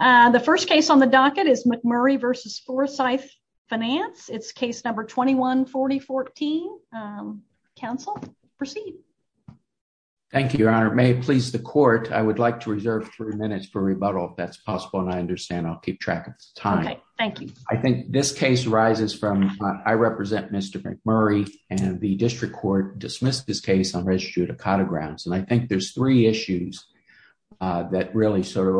The first case on the docket is McMurray v. Forsythe Finance. It's case number 21-4014. Counsel, proceed. Thank you, Your Honor. May it please the court, I would like to reserve three minutes for rebuttal, if that's possible, and I understand I'll keep track of time. Okay, thank you. I think this case arises from, I represent Mr. McMurray, and the district court dismissed this case on registered judicata grounds, and I think there's three issues that really sort of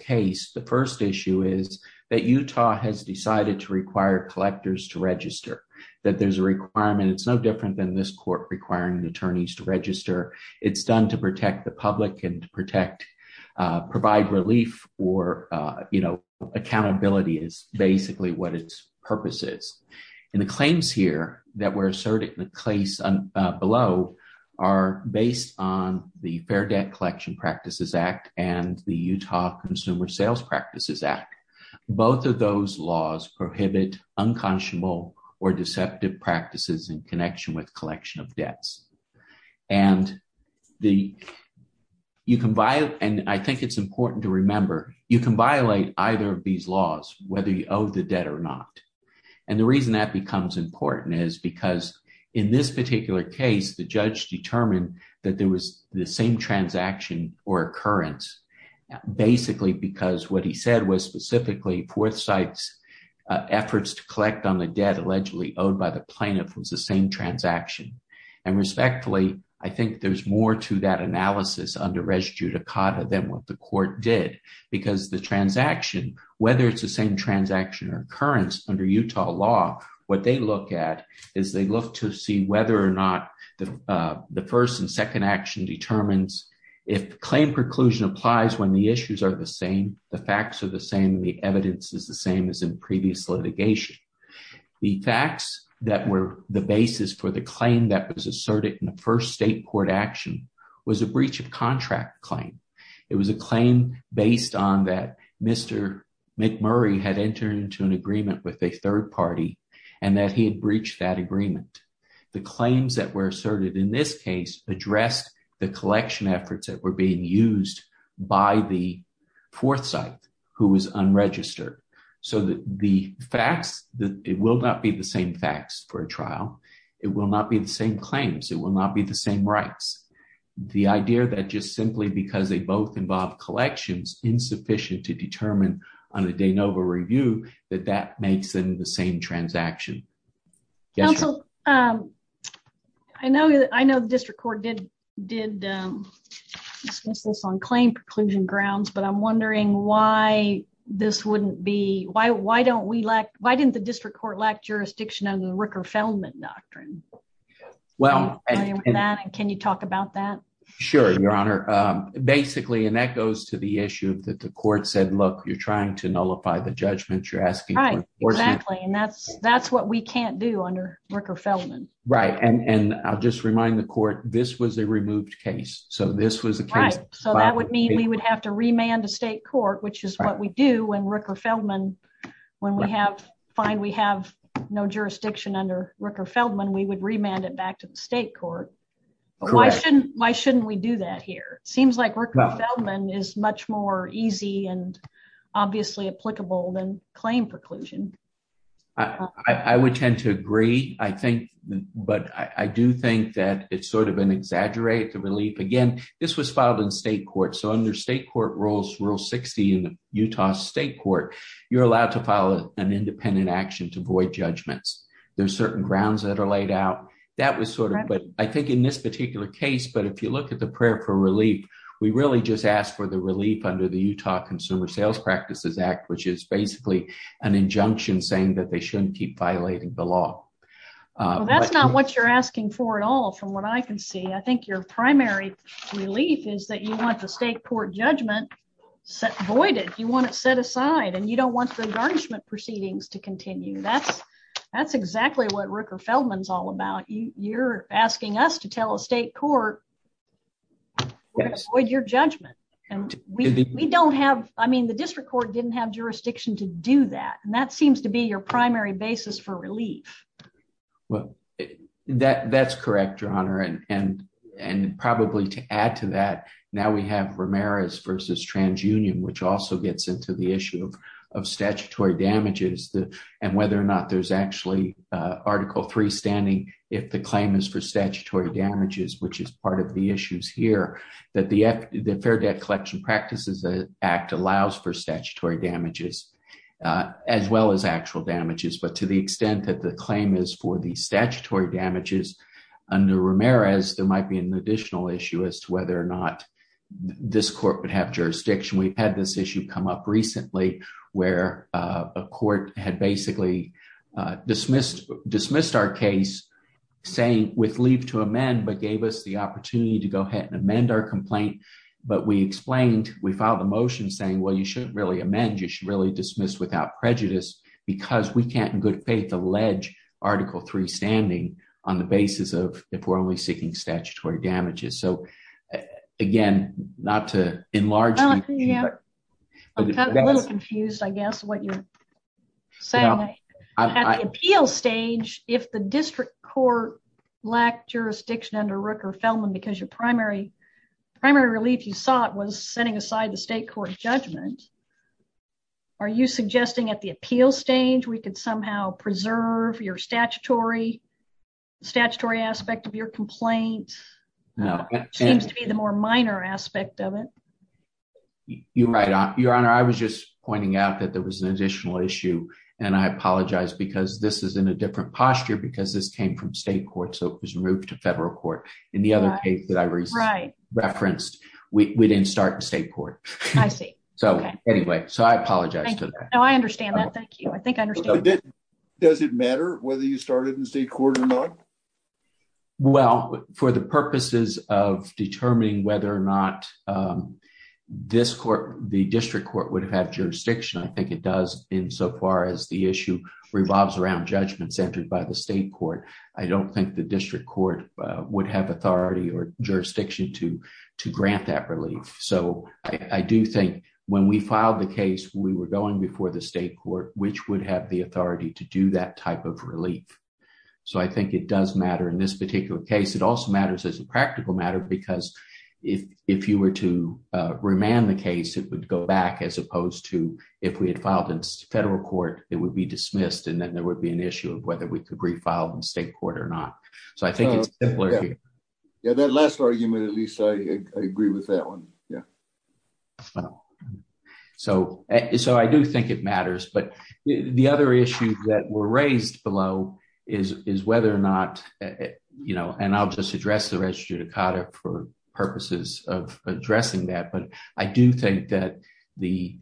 case. The first issue is that Utah has decided to require collectors to register, that there's a requirement. It's no different than this court requiring attorneys to register. It's done to protect the public and to protect, provide relief or, you know, accountability is basically what its purpose is. And the claims here that were asserted in the case below are based on the Fair Debt Collection Practices Act and the Utah Consumer Sales Practices Act. Both of those laws prohibit unconscionable or deceptive practices in connection with collection of debts. And the, you can violate, and I think it's important to remember, you can violate either of these laws, whether you owe the debt or not. And the reason that becomes important is because in this particular case, the judge determined that there was the same transaction or occurrence, basically because what he said was specifically Forthsite's efforts to collect on the debt allegedly owed by the plaintiff was the same transaction. And respectfully, I think there's more to that analysis under registered judicata than what the court did, because the transaction, whether it's the same transaction or occurrence under Utah law, what they look at is they look to see whether or not the first and second action determines if claim preclusion applies when the issues are the same, the facts are the same, the evidence is the same as in previous litigation. The facts that were the basis for the claim that was asserted in the first state court action was a breach of contract claim. It was a claim based on that Mr. McMurray had entered into an agreement with a third party and that he had breached that agreement. The claims that were asserted in this case addressed the collection efforts that were being used by the Forthsite, who was unregistered. So the facts, it will not be the same facts for a trial. It will not be the same claims. It will not be the same rights. The idea that just simply because they both involve collections insufficient to determine on a de novo review that that makes them the same transaction. Counsel, I know the district court did discuss this on claim preclusion grounds, but I'm wondering why this wouldn't be, why didn't the district court lack jurisdiction under the Ricker-Feldman doctrine? Can you talk about that? Sure, your honor. Basically, and that goes to the issue that the court said, look, you're trying to nullify the judgment you're asking for. Exactly. And that's what we can't do under Ricker-Feldman. Right. And I'll just remind the court, this was a removed case. So this was a case. Right. So that would mean we would have to remand a state court, which is what we do when Ricker-Feldman, when we have, find we have no jurisdiction under Ricker-Feldman, we would remand it back to the state court. Why shouldn't, why shouldn't we do that here? Seems like Ricker-Feldman is much more easy and obviously applicable than claim preclusion. I would tend to agree, I think, but I do think that it's sort of an exaggerated relief. Again, this was filed in state court. So under state court rules, rule 60 in Utah state court, you're allowed to file an independent action to void judgments. There's certain grounds that are laid out. That was sort of, but I think in this particular case, but if you look at the prayer for relief, we really just asked for the relief under the Utah Consumer Sales Practices Act, which is basically an injunction saying that they shouldn't keep violating the law. That's not what you're asking for at all from what I can see. I think your primary relief is that you want the state court judgment set voided. You want it set aside and you don't want the garnishment proceedings to continue. That's exactly what Ricker-Feldman is all about. You're asking us to tell a state court to void your judgment. And we don't have, I mean, the district court didn't have jurisdiction to do that. And that seems to be your primary basis for relief. Well, that's correct, Your Honor. And probably to add to that, now we have Ramirez versus TransUnion, which also gets into the issue of statutory damages and whether or not there's actually article three standing, if the claim is for statutory damages, which is part of the issues here that the Fair Debt Collection Practices Act allows for statutory damages as well as actual damages. But to the extent that the claim is for statutory damages under Ramirez, there might be an additional issue as to whether or not this court would have jurisdiction. We've had this issue come up recently where a court had basically dismissed our case saying with leave to amend, but gave us the opportunity to go ahead and amend our complaint. But we explained, we filed a motion saying, well, you shouldn't really amend. You should really dismiss without prejudice because we can't in good faith, allege article three standing on the basis of if we're only seeking statutory damages. So again, not to enlarge. I'm a little confused, I guess, what you're saying. At the appeal stage, if the district court lacked jurisdiction under Rooker-Feldman because your primary relief you sought was setting aside the state court judgment, are you suggesting at the appeal stage we could somehow preserve your statutory aspect of your complaint? Seems to be the more minor aspect of it. You're right. Your Honor, I was just pointing out that there was an additional issue and I apologize because this is in a different posture because this came from state court, so it was moved to federal court. In the other case that I referenced, we didn't start in state court. I see. So anyway, so I apologize for that. No, I understand that. I think I understand. Does it matter whether you started in state court or not? Well, for the purposes of determining whether or not the district court would have jurisdiction, I think it does insofar as the issue revolves around judgment centered by the state court. I don't think the district court would have authority or jurisdiction to grant that relief. So I do think when we filed the case, we were going before the state court, which would have the authority to do that type of relief. So I think it does matter in this particular case. It also matters as a practical matter because if you were to remand the case, it would go back as opposed to if we had filed in federal court, it would be dismissed and then there would be an issue of whether we could refile in state court or not. So I think it's simpler. Yeah, that last argument, at least I agree with that one. Yeah. So I do think it matters, but the other issue that were raised below is whether or not, and I'll just address the reg judicata for purposes of addressing that. But I do think that the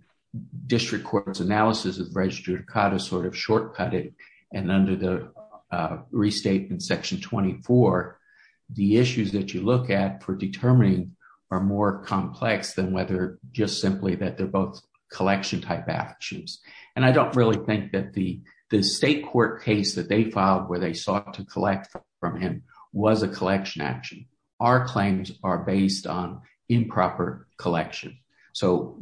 district court's analysis of reg judicata sort of shortcut it and under the restatement section 24, the issues that you look at for determining are more complex than whether just simply that they're both collection type actions. And I don't really think that the state court case that they filed where they sought to collect from him was a collection action. Our claims are based on improper collection. So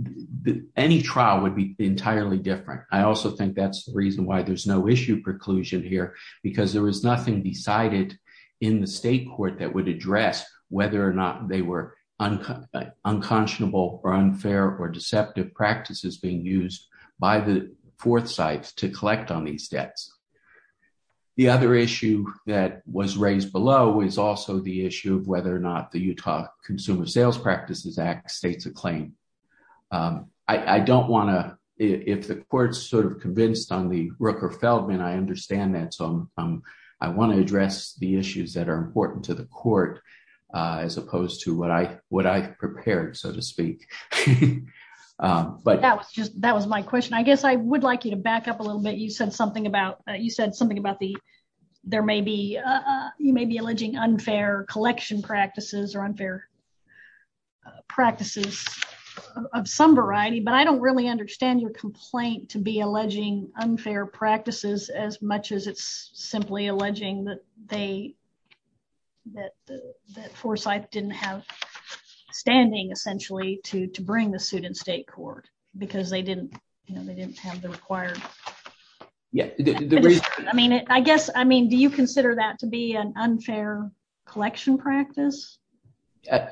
any trial would entirely different. I also think that's the reason why there's no issue preclusion here because there was nothing decided in the state court that would address whether or not they were unconscionable or unfair or deceptive practices being used by the fourth sites to collect on these debts. The other issue that was raised below is also the issue of whether or not the if the court's sort of convinced on the Rooker Feldman, I understand that. So I want to address the issues that are important to the court as opposed to what I prepared, so to speak. But that was just, that was my question. I guess I would like you to back up a little bit. You said something about, you said something about the, there may be, you may be alleging unfair collection practices or unfair practices of some variety, but I don't really understand your complaint to be alleging unfair practices as much as it's simply alleging that they, that that Forsyth didn't have standing essentially to bring the suit in state court because they didn't, you know, they didn't have the required. Yeah, I mean, I guess, I mean, you consider that to be an unfair collection practice?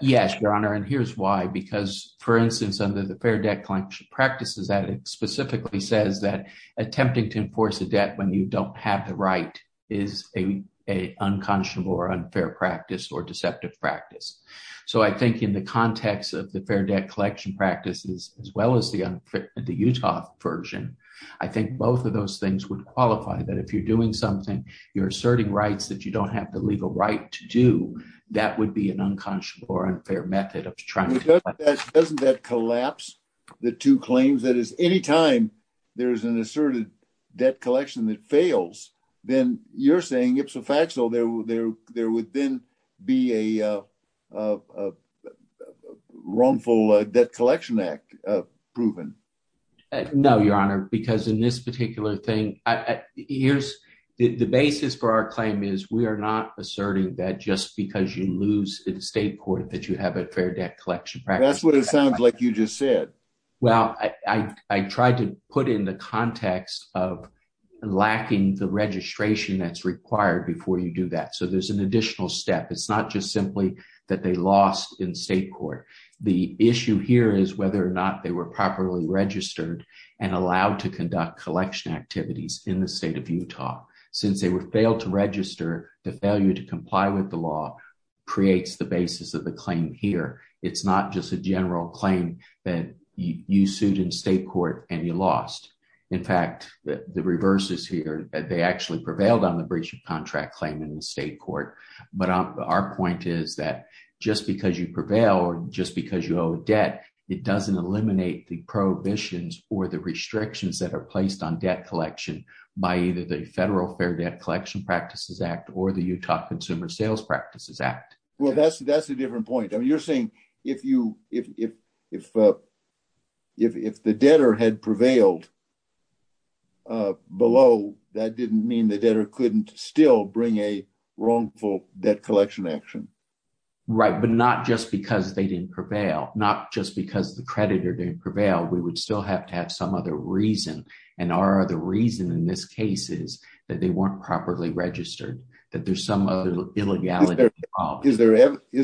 Yes, Your Honor, and here's why, because for instance, under the fair debt collection practices that it specifically says that attempting to enforce a debt when you don't have the right is a unconscionable or unfair practice or deceptive practice. So I think in the context of the fair debt collection practices, as well as the Utah version, I think both of those things would qualify that if you're doing something, you're asserting rights that you don't have the legal right to do, that would be an unconscionable or unfair method of trying to collect. Doesn't that collapse the two claims? That is, any time there's an asserted debt collection that fails, then you're saying ipso facto there would then be a wrongful debt collection act proven. No, Your Honor, because in this particular thing, here's the basis for our claim is we are not asserting that just because you lose in the state court that you have a fair debt collection practice. That's what it sounds like you just said. Well, I tried to put in the context of lacking the registration that's required before you do that. So there's an additional step. It's not just simply that they lost in state court. The issue here is whether or not they were properly registered and allowed to conduct collection activities in the state of Utah. Since they failed to register, the failure to comply with the law creates the basis of the claim here. It's not just a general claim that you sued in state court and you lost. In fact, the reverse is here. They actually prevailed on the breach of contract claim in the state court. But our point is that just because you prevail or just because you owe a debt, it doesn't eliminate the prohibitions or the restrictions that are placed on debt collection by either the Federal Fair Debt Collection Practices Act or the Utah Consumer Sales Practices Act. Well, that's a different point. I mean, you're saying if the debtor had prevailed below, that didn't mean the debtor couldn't still bring a debt. Not just because the creditor didn't prevail, we would still have to have some other reason. And our other reason in this case is that they weren't properly registered, that there's some other illegality involved. Is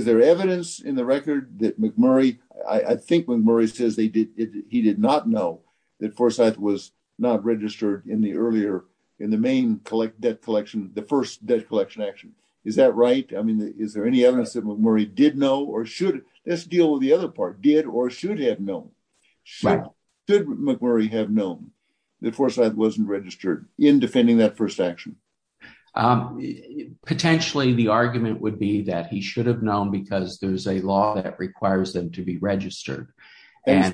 there evidence in the record that McMurray, I think McMurray says he did not know that Forsyth was not registered in the earlier, in the main debt collection, the first debt collection action. Is that right? I mean, is there any evidence that McMurray did know or should, let's deal with the other part, did or should have known. Should McMurray have known that Forsyth wasn't registered in defending that first action? Potentially, the argument would be that he should have known because there's a law that requires them to be registered. You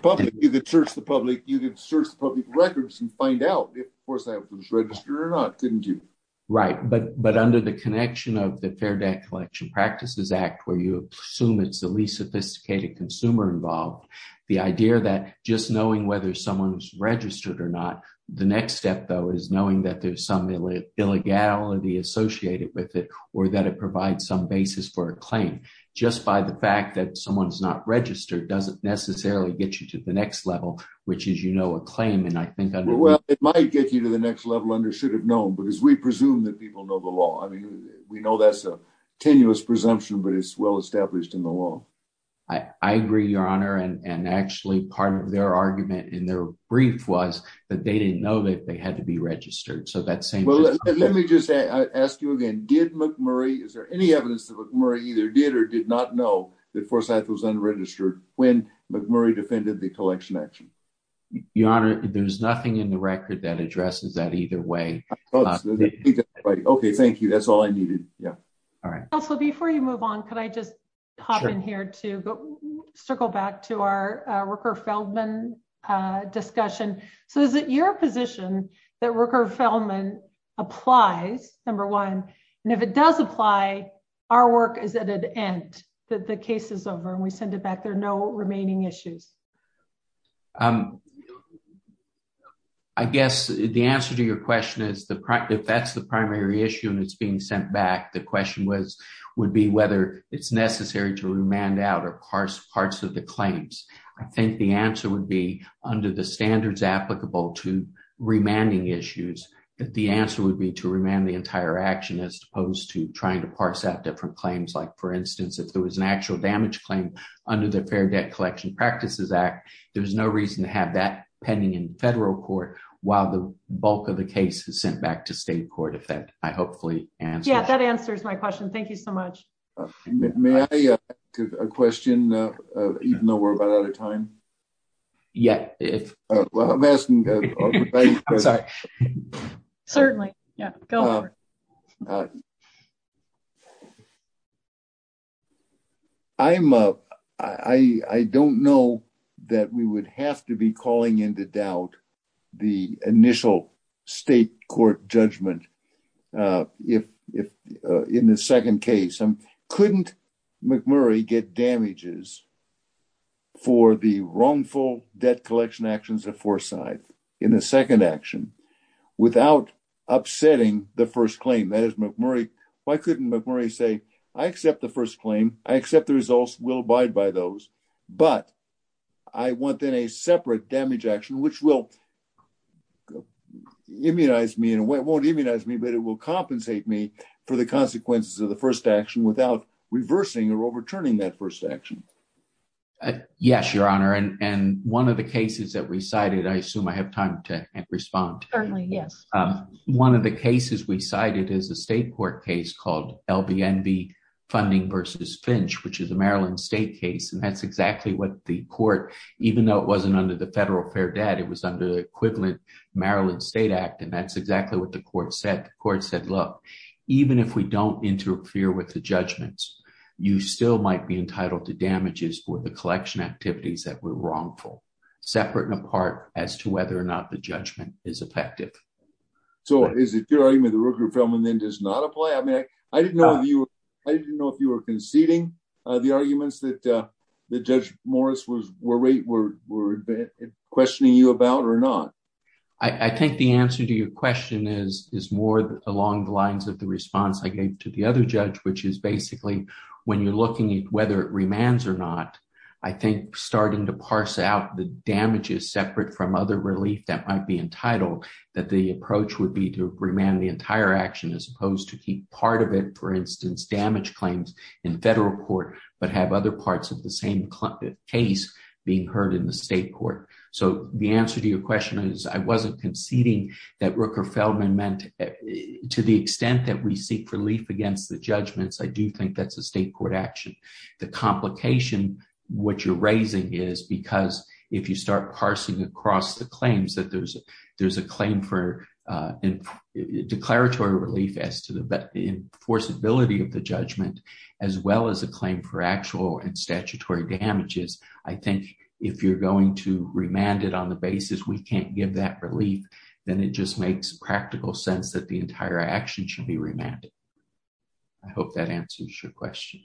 could search the public records and find out if Forsyth was registered or not, didn't you? Right. But under the connection of Fair Debt Collection Practices Act, where you assume it's the least sophisticated consumer involved, the idea that just knowing whether someone's registered or not, the next step, though, is knowing that there's some illegality associated with it or that it provides some basis for a claim. Just by the fact that someone's not registered doesn't necessarily get you to the next level, which is, you know, a claim. And I think it might get you to the next level because we presume that people know the law. I mean, we know that's a tenuous presumption, but it's well established in the law. I agree, Your Honor. And actually, part of their argument in their brief was that they didn't know that they had to be registered. So that same... Well, let me just ask you again. Did McMurray, is there any evidence that McMurray either did or did not know that Forsyth was unregistered when McMurray defended the collection action? Your Honor, there's nothing in the record that addresses that either way. Okay, thank you. That's all I needed. Yeah. All right. Also, before you move on, can I just hop in here to circle back to our Rooker-Feldman discussion? So is it your position that Rooker-Feldman applies, number one, and if it does apply, our work is at an end, that the case is over and we send it back, there are no remaining issues? Well, I guess the answer to your question is if that's the primary issue and it's being sent back, the question would be whether it's necessary to remand out or parse parts of the claims. I think the answer would be under the standards applicable to remanding issues, that the answer would be to remand the entire action as opposed to trying to parse out different claims. Like, for instance, if there was an actual damage claim under the Fair Debt Collection Practices Act, there's no reason to have that pending in federal court while the bulk of the case is sent back to state court, if that I hopefully answered. Yeah, that answers my question. Thank you so much. May I ask a question, even though we're about out of time? Yeah. I'm sorry. Certainly. Yeah, go for it. I don't know that we would have to be calling into doubt the initial state court judgment in the second case. Couldn't McMurray get damages for the wrongful debt collection actions of Why couldn't McMurray say, I accept the first claim, I accept the results, we'll abide by those, but I want then a separate damage action, which will immunize me in a way, won't immunize me, but it will compensate me for the consequences of the first action without reversing or overturning that first action. Yes, Your Honor. And one of the cases that we cited, I assume I have time to respond. Certainly. Yes. One of the cases we cited is a state court case called LBNV funding versus Finch, which is a Maryland state case. And that's exactly what the court, even though it wasn't under the federal fair debt, it was under the equivalent Maryland state act. And that's exactly what the court said. The court said, look, even if we don't interfere with the judgments, you still might be entitled to damages for the is effective. So is it your argument, the Rooker-Feldman then does not apply? I mean, I didn't know if you, I didn't know if you were conceding the arguments that the judge Morris was worried were questioning you about or not. I think the answer to your question is, is more along the lines of the response I gave to the other judge, which is basically when you're looking at whether it remands or not, I think starting to parse out the damages separate from other relief that might be entitled, that the approach would be to remand the entire action, as opposed to keep part of it, for instance, damage claims in federal court, but have other parts of the same case being heard in the state court. So the answer to your question is I wasn't conceding that Rooker-Feldman meant to the extent that we seek relief against the judgments. I do think that's a state court action. The complication, what you're raising is because if you start parsing across the claims that there's a claim for declaratory relief as to the enforceability of the judgment, as well as a claim for actual and statutory damages, I think if you're going to remand it on the basis we can't give that relief, then it just makes practical sense that the entire action should be remanded. I hope that answers your question.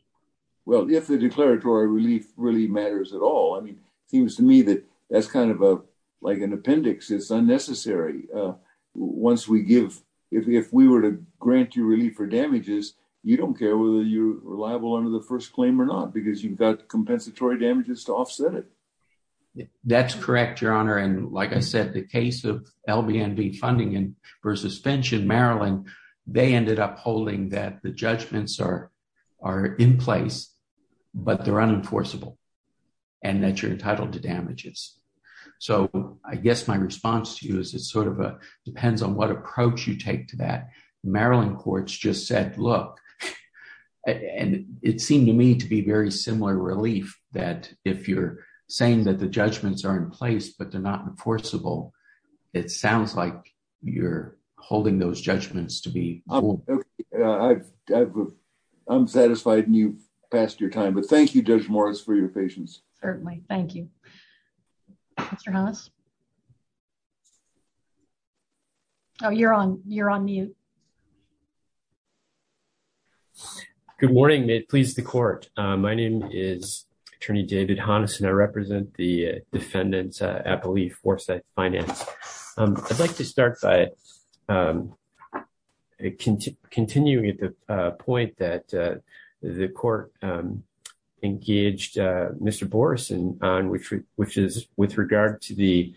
Well, if the kind of like an appendix, it's unnecessary. Once we give, if we were to grant you relief for damages, you don't care whether you're reliable under the first claim or not, because you've got compensatory damages to offset it. That's correct, your honor. And like I said, the case of LBNB funding and for suspension, Maryland, they ended up holding that the judgments are in place, but they're unenforceable and that you're entitled to damages. So I guess my response to you is it sort of depends on what approach you take to that. Maryland courts just said, look, and it seemed to me to be very similar relief that if you're saying that the judgments are in place, but they're not enforceable, it sounds like you're holding those judgments to be. I'm satisfied and you've passed your time, but thank you, Judge Morris, for your patience. Certainly. Thank you, Mr. Honest. Oh, you're on, you're on mute. Good morning. May it please the court. My name is attorney David Honest and I represent the I'd like to start by continuing at the point that the court engaged Mr. Boreson on which is with regard to the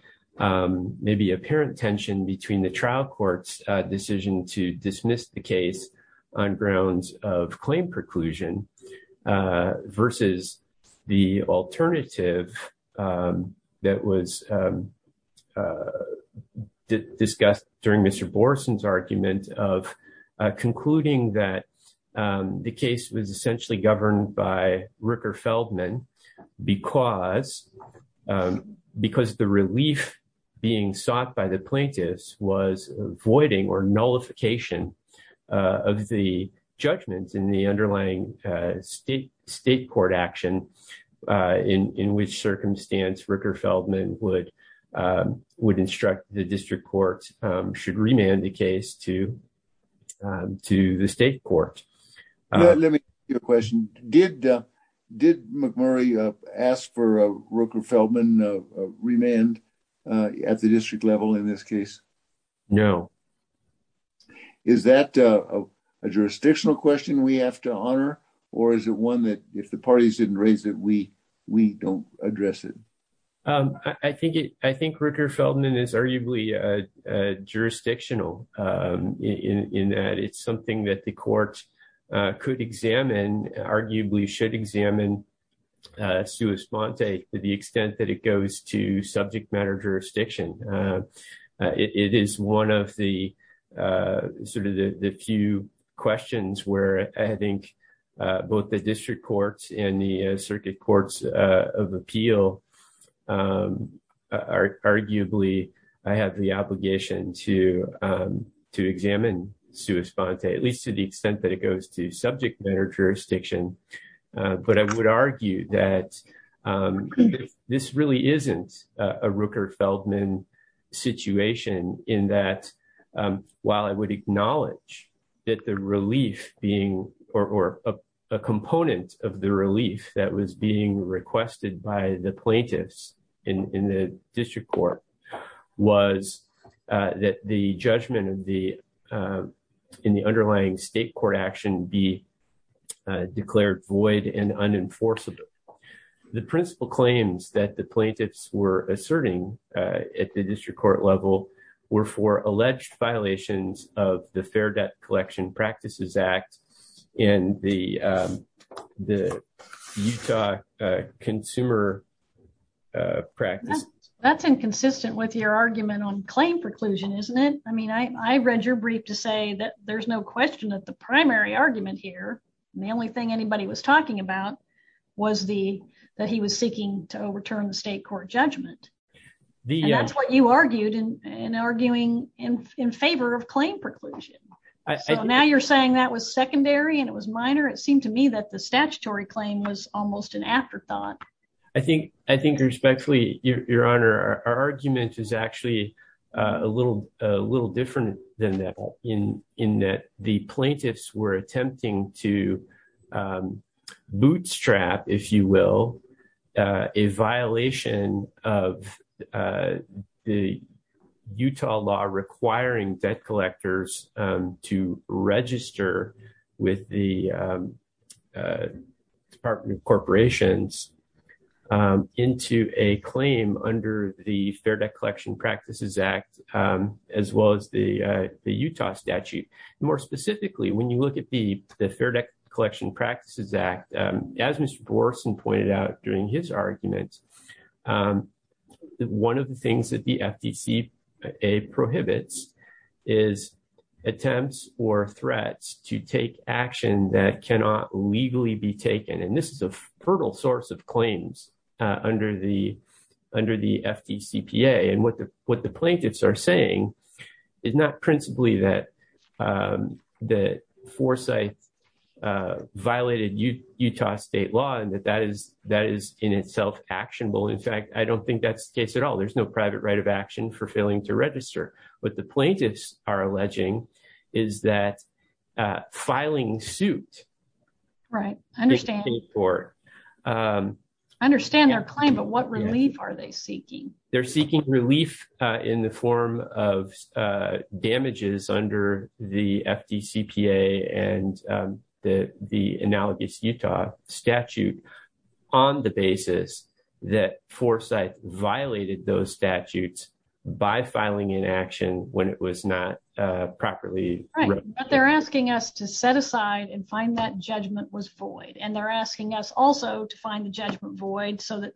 maybe apparent tension between the trial court's decision to dismiss the case on grounds of claim preclusion versus the alternative that was discussed during Mr. Boreson's argument of concluding that the case was essentially governed by Ricker Feldman because the relief being sought by the plaintiffs was avoiding or nullification of the judgments in the underlying state court action in which circumstance Ricker Feldman would instruct the district court should remand the case to the state court. Let me ask you a question. Did McMurray ask for a Ricker Feldman remand at the district level in this case? No. Is that a jurisdictional question we have to honor or is it one that if the parties didn't raise it, we don't address it? I think Ricker Feldman is arguably jurisdictional in that it's something that the court could examine, arguably should examine sua sponte to the extent that it goes to subject matter jurisdiction. It is one of the sort of the few questions where I think both the district courts and the circuit courts of appeal arguably have the obligation to examine sua sponte, at least to the extent that it goes to that this really isn't a Ricker Feldman situation in that while I would acknowledge that the relief being or a component of the relief that was being requested by the plaintiffs in the district court was that the judgment in the underlying state court action be void and unenforceable. The principal claims that the plaintiffs were asserting at the district court level were for alleged violations of the Fair Debt Collection Practices Act in the Utah consumer practice. That's inconsistent with your argument on claim preclusion, isn't it? I mean, I read your brief to say that there's no question that the primary argument here and the only thing anybody was talking about was that he was seeking to overturn the state court judgment. And that's what you argued in arguing in favor of claim preclusion. So now you're saying that was secondary and it was minor? It seemed to me that the statutory claim was almost an afterthought. I think respectfully, your honor, our argument is actually a little different than that in that the plaintiffs were attempting to bootstrap, if you will, a violation of the Utah law requiring debt collectors to register with the Department of Corporations into a claim under the Fair Debt Collection Practices Act as well as the Utah statute. More specifically, when you look at the Fair Debt Collection Practices Act, as Mr. Borgeson pointed out during his argument, one of the things that the FDCA prohibits is attempts or threats to action that cannot legally be taken. And this is a fertile source of claims under the FDCPA. And what the plaintiffs are saying is not principally that Forsyth violated Utah state law and that is in itself actionable. In fact, I don't think that's the case at all. There's no private right of action for failing to register. What the plaintiffs are alleging is that filing suit. Right. I understand their claim, but what relief are they seeking? They're seeking relief in the form of damages under the FDCPA and the analogous Utah statute on the basis that Forsyth violated those statutes by filing inaction when it was not properly. They're asking us to set aside and find that judgment was void. And they're asking us also to find the judgment void so that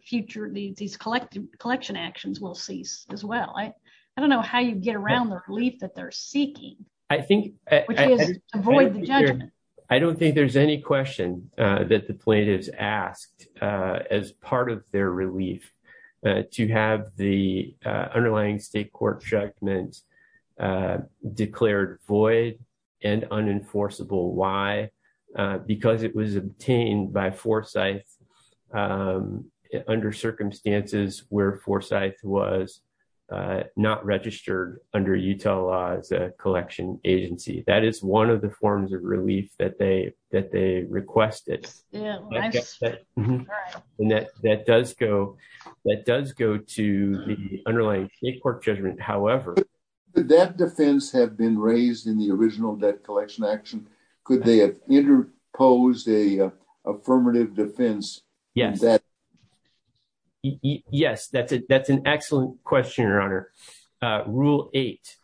these collection actions will cease as well. I don't know how you get around the relief that they're seeking, which is avoid the judgment. I don't think there's any question that the plaintiffs asked as part of their relief to have the underlying state court judgment declared void and unenforceable. Why? Because it was obtained by Forsyth under circumstances where Forsyth was not registered under Utah law as a collection agency. That is one of the forms of relief that they requested. That does go to the underlying state court judgment, however. Did that defense have been raised in the original debt collection action? Could they have interposed an affirmative defense? Yes, that's an excellent question, Your Honor. Rule 8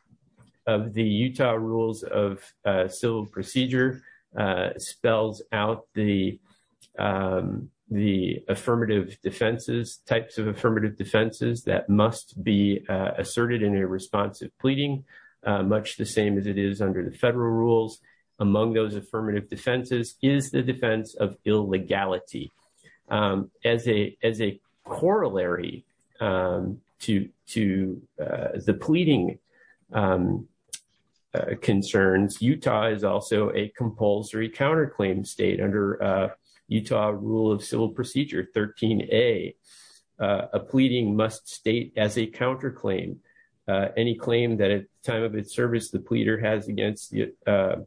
of the Utah Rules of Civil Procedure spells out the affirmative defenses, types of affirmative defenses that must be asserted in a responsive pleading, much the same as it is under the federal rules. Among those affirmative defenses is the defense of illegality. As a corollary to the pleading concerns, Utah is also a compulsory counterclaim state under Utah Rule of Civil Procedure 13A. A pleading must state as a counterclaim any claim that at the time of its service the pleader has against an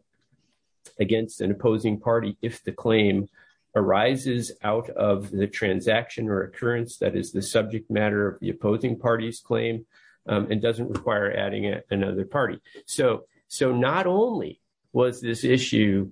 opposing party if the claim arises out of the transaction or occurrence that is the subject matter of the opposing party's claim and doesn't require adding another party. So not only was this issue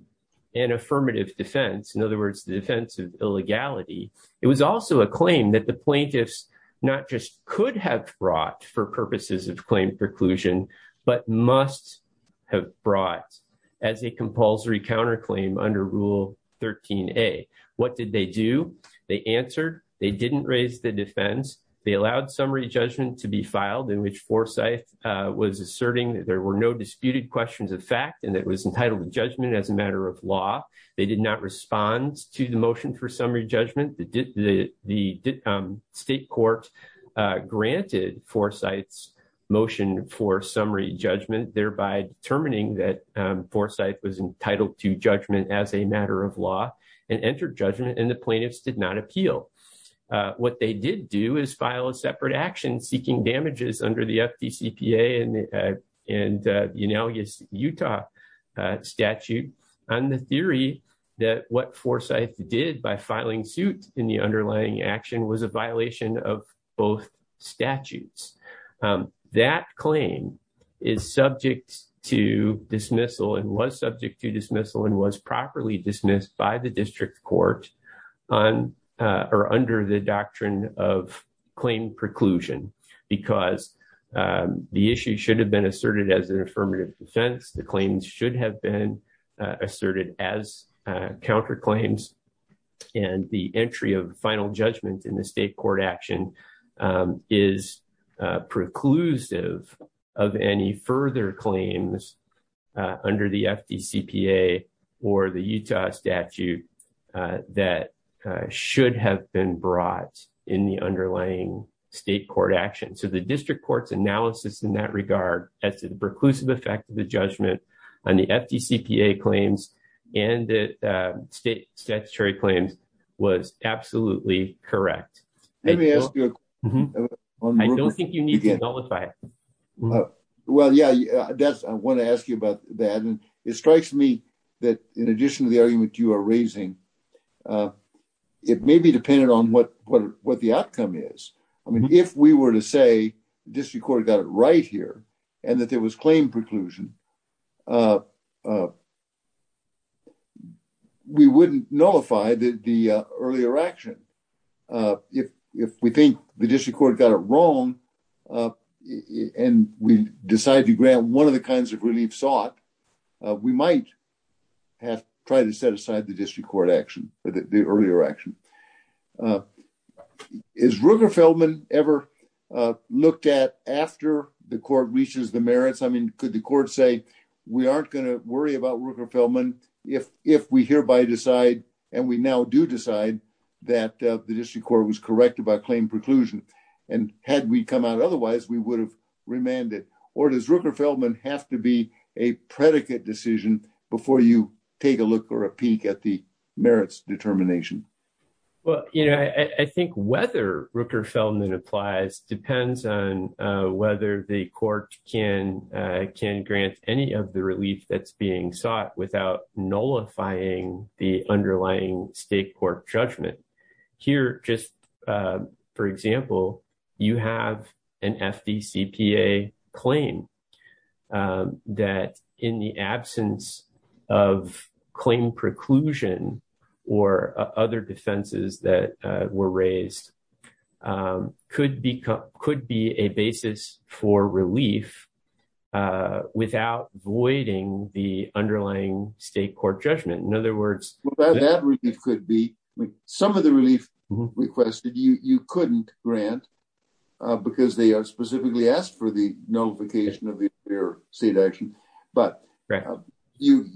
an affirmative defense, in other words the defense of illegality, it was also a claim that the plaintiffs not just could have brought for purposes of claim preclusion but must have brought as a compulsory counterclaim under Rule 13A. What did they do? They answered. They didn't raise the defense. They allowed summary judgment to be filed in which Forsyth was asserting that there were no disputed questions of fact and it was entitled to judgment as a matter of law. They did not respond to the motion for summary judgment. The state court granted Forsyth's motion for summary judgment thereby determining that Forsyth was entitled to judgment as a matter of law and entered judgment and the plaintiffs did not appeal. What they did do is file a separate action seeking damages under the FDCPA and the Unalias Utah statute on the theory that what Forsyth did by filing suit in the underlying action was a violation of both statutes. That claim is subject to dismissal and was subject to dismissal and was properly dismissed by the district court under the doctrine of claim preclusion because the issue should have been asserted as an affirmative defense. The claims should have been asserted as counterclaims and the entry of final judgment in the state court action is preclusive of any further claims under the FDCPA or the Utah statute that should have been brought in the underlying state court action. So the district court's analysis in that regard as to the preclusive effect of the judgment on the FDCPA claims and the state statutory claims was absolutely correct. Let me ask you. I don't think you need to nullify it. Well yeah that's I want to ask you about that and it strikes me that in addition to the argument you are raising it may be dependent on what the outcome is. I mean if we were to say the district court got it right here and that there was claim preclusion we wouldn't nullify the earlier action. If we think the district court got it wrong and we decide to grant one of the kinds of relief sought we might have tried to set aside the district court action for the earlier action. Is Rooker Feldman ever looked at after the court reaches the merits? I mean could the court say we aren't going to worry about Rooker Feldman if we hereby decide and we now do decide that the district court was corrected by claim preclusion and had we come out otherwise we would have remanded or does Rooker Feldman have to be a predicate decision before you take a look or a peek at the merits determination? Well you know I think whether Rooker Feldman applies depends on whether the court can grant any of the relief that's being sought without nullifying the underlying state court judgment. Here just for example you have an FDCPA claim that in the absence of claim preclusion or other defenses that were raised could be a basis for relief without voiding the underlying state court judgment. In other words that could be some of the relief requested you couldn't grant because they are specifically asked for the nullification of the earlier state action but you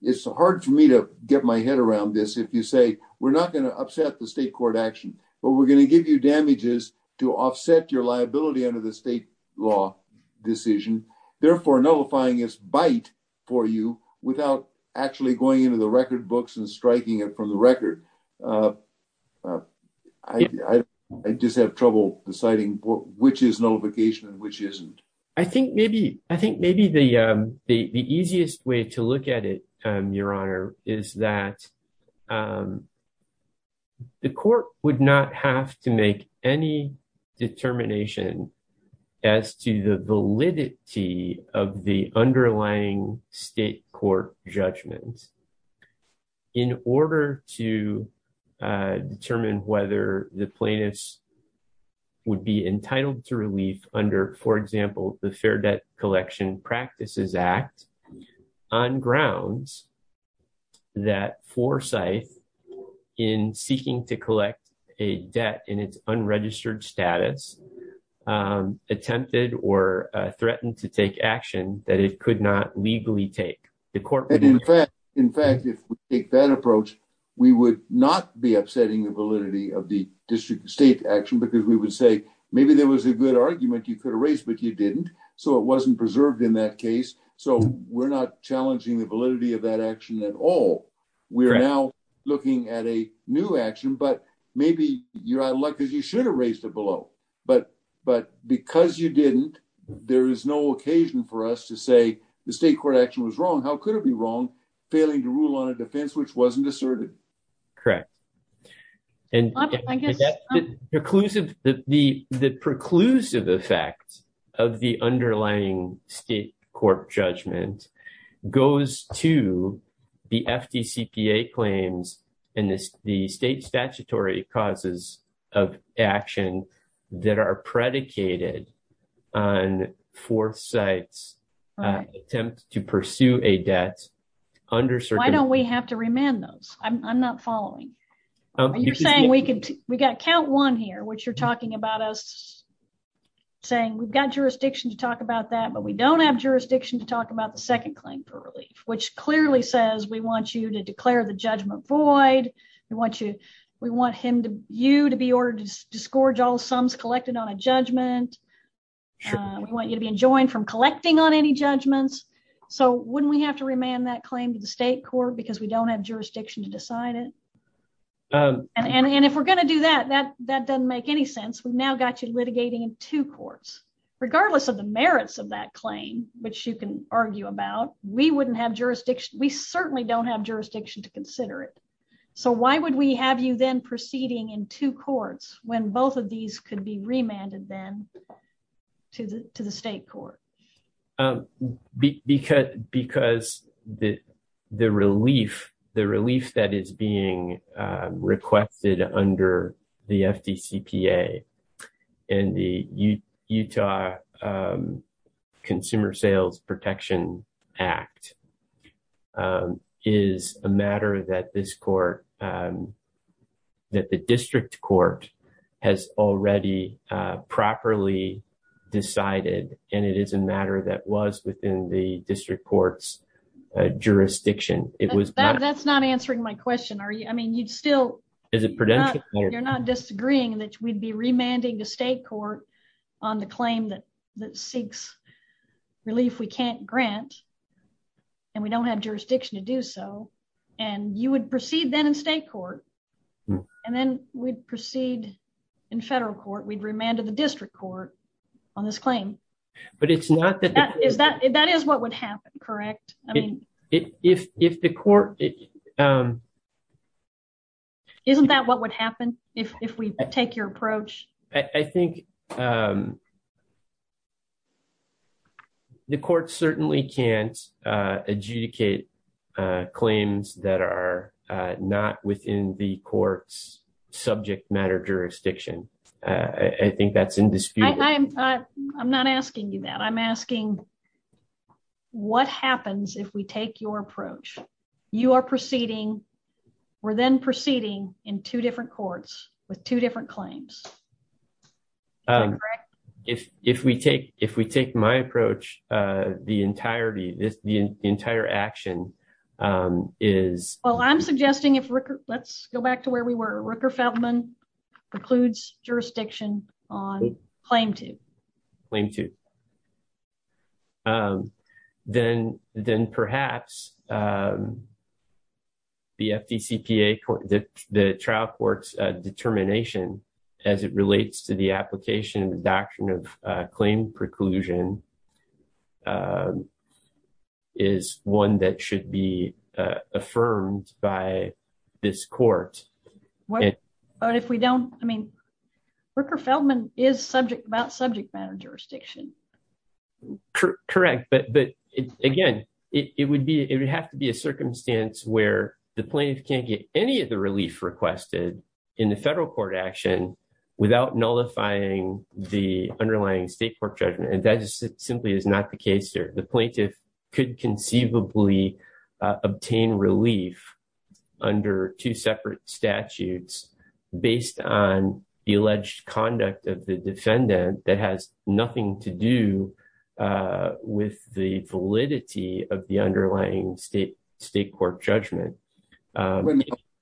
it's hard for me to get my head around this if you say we're not going to upset the state court action but we're going to give you damages to offset your liability under the state law decision therefore nullifying is bite for you without actually going into the record books and striking it from the record. I just have trouble deciding which is nullification and which isn't. I think maybe the easiest way to look at it your honor is that the court would not have to make any determination as to the validity of the underlying state court judgment. In order to determine whether the plaintiffs would be entitled to relief under for example the Fair Debt Collection Practices Act on grounds that Forsythe in seeking to collect a debt in its unregistered status attempted or threatened to take action that it could not legally take. In fact if we take that approach we would not be upsetting the validity of the district state action because we would say maybe there was a good argument you could erase but you didn't so it wasn't preserved in that case so we're not challenging the validity of that action at all. We're now looking at a new action but maybe you're out of luck because you no occasion for us to say the state court action was wrong how could it be wrong failing to rule on a defense which wasn't asserted. Correct and the preclusive effect of the underlying state court judgment goes to the FDCPA claims and the state statutory causes of action that are predicated on Forsythe's attempt to pursue a debt. Why don't we have to remand those? I'm not following. You're saying we could we got count one here which you're talking about us saying we've got jurisdiction to talk about that but we don't have jurisdiction to talk about the second claim for relief which clearly says we want you to declare the judgment void. We want you we want him to you to be ordered to scourge all sums collected on a judgment. We want you to be enjoined from collecting on any judgments so wouldn't we have to remand that claim to the state court because we don't have jurisdiction to decide it and and if we're going to do that that that doesn't make any sense we've now got you litigating in two courts regardless of the merits of that claim which you can argue about we wouldn't have jurisdiction we why would we have you then proceeding in two courts when both of these could be remanded then to the to the state court? Because the relief that is being requested under the FDCPA and the Utah Consumer Sales Protection Act is a matter that this court that the district court has already properly decided and it is a matter that was within the district court's jurisdiction. It was that's not answering my question are you I mean you'd still is it prudential you're not disagreeing that we'd be remanding the state court on the claim that that seeks relief we can't grant and we don't have jurisdiction to do so and you would proceed then in state court and then we'd proceed in federal court we'd remanded the district court on this claim but it's not that is that that is what would happen correct I mean if if the court isn't that what would happen if if we take your approach? I think the court certainly can't adjudicate claims that are not within the court's subject matter jurisdiction I think that's in dispute. I'm not asking you that I'm asking what happens if we take your approach? You are proceeding we're then proceeding in two different courts with two different claims. Is that correct? If if we take if we take my approach the entirety this the entire action is well I'm suggesting if Ricker let's go back to where we Ricker Feldman precludes jurisdiction on claim to claim to then then perhaps the FDCPA the trial court's determination as it relates to the application of the doctrine of claim preclusion is one that should be affirmed by this court but if we don't I mean Ricker Feldman is subject about subject matter jurisdiction. Correct but but again it would be it would have to be a circumstance where the plaintiff can't get any of the relief requested in the federal court action without nullifying the underlying state court judgment and that just simply is not the case here the plaintiff could conceivably obtain relief under two separate statutes based on the alleged conduct of the defendant that has nothing to do with the validity of the underlying state state court judgment.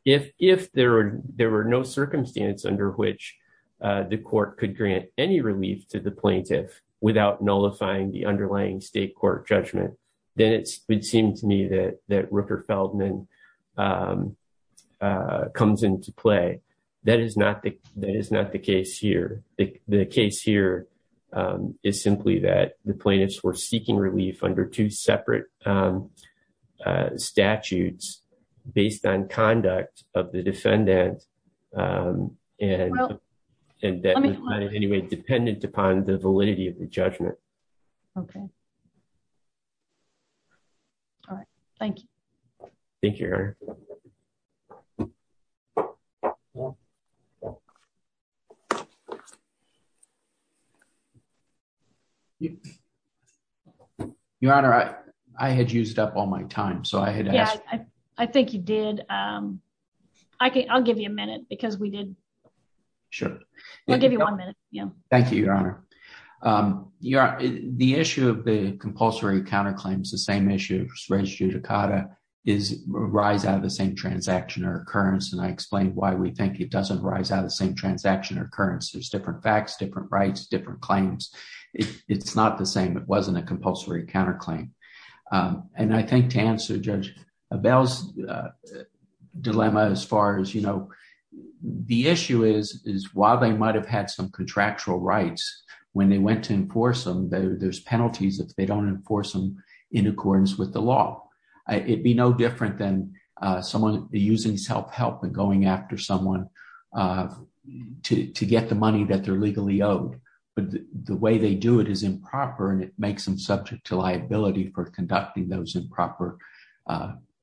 If if there were there were no circumstance under which the court could grant any relief to the that Ricker Feldman comes into play that is not the that is not the case here the case here is simply that the plaintiffs were seeking relief under two separate statutes based on conduct of the defendant and that is anyway dependent upon the validity of judgment. Okay all right thank you thank you your honor. Your honor I I had used up all my time so I had yeah I think you did um I can I'll give you a your the issue of the compulsory counterclaims the same issue of res judicata is rise out of the same transaction or occurrence and I explained why we think it doesn't rise out of the same transaction or occurrence there's different facts different rights different claims it it's not the same it wasn't a compulsory counterclaim and I think to answer Judge Bell's dilemma as far as you know the issue is is while they might have had some contractual rights when they went to there's penalties if they don't enforce them in accordance with the law it'd be no different than someone using self-help and going after someone to to get the money that they're legally owed but the way they do it is improper and it makes them subject to liability for conducting those improper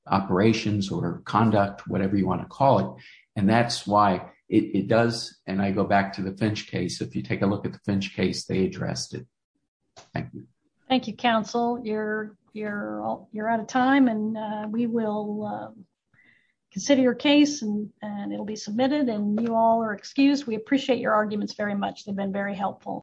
operations or conduct whatever you want to call it and that's why it it does and I go back the Finch case if you take a look at the Finch case they addressed it thank you thank you counsel you're you're you're out of time and we will consider your case and and it'll be submitted and you all are excused we appreciate your arguments very much they've been very helpful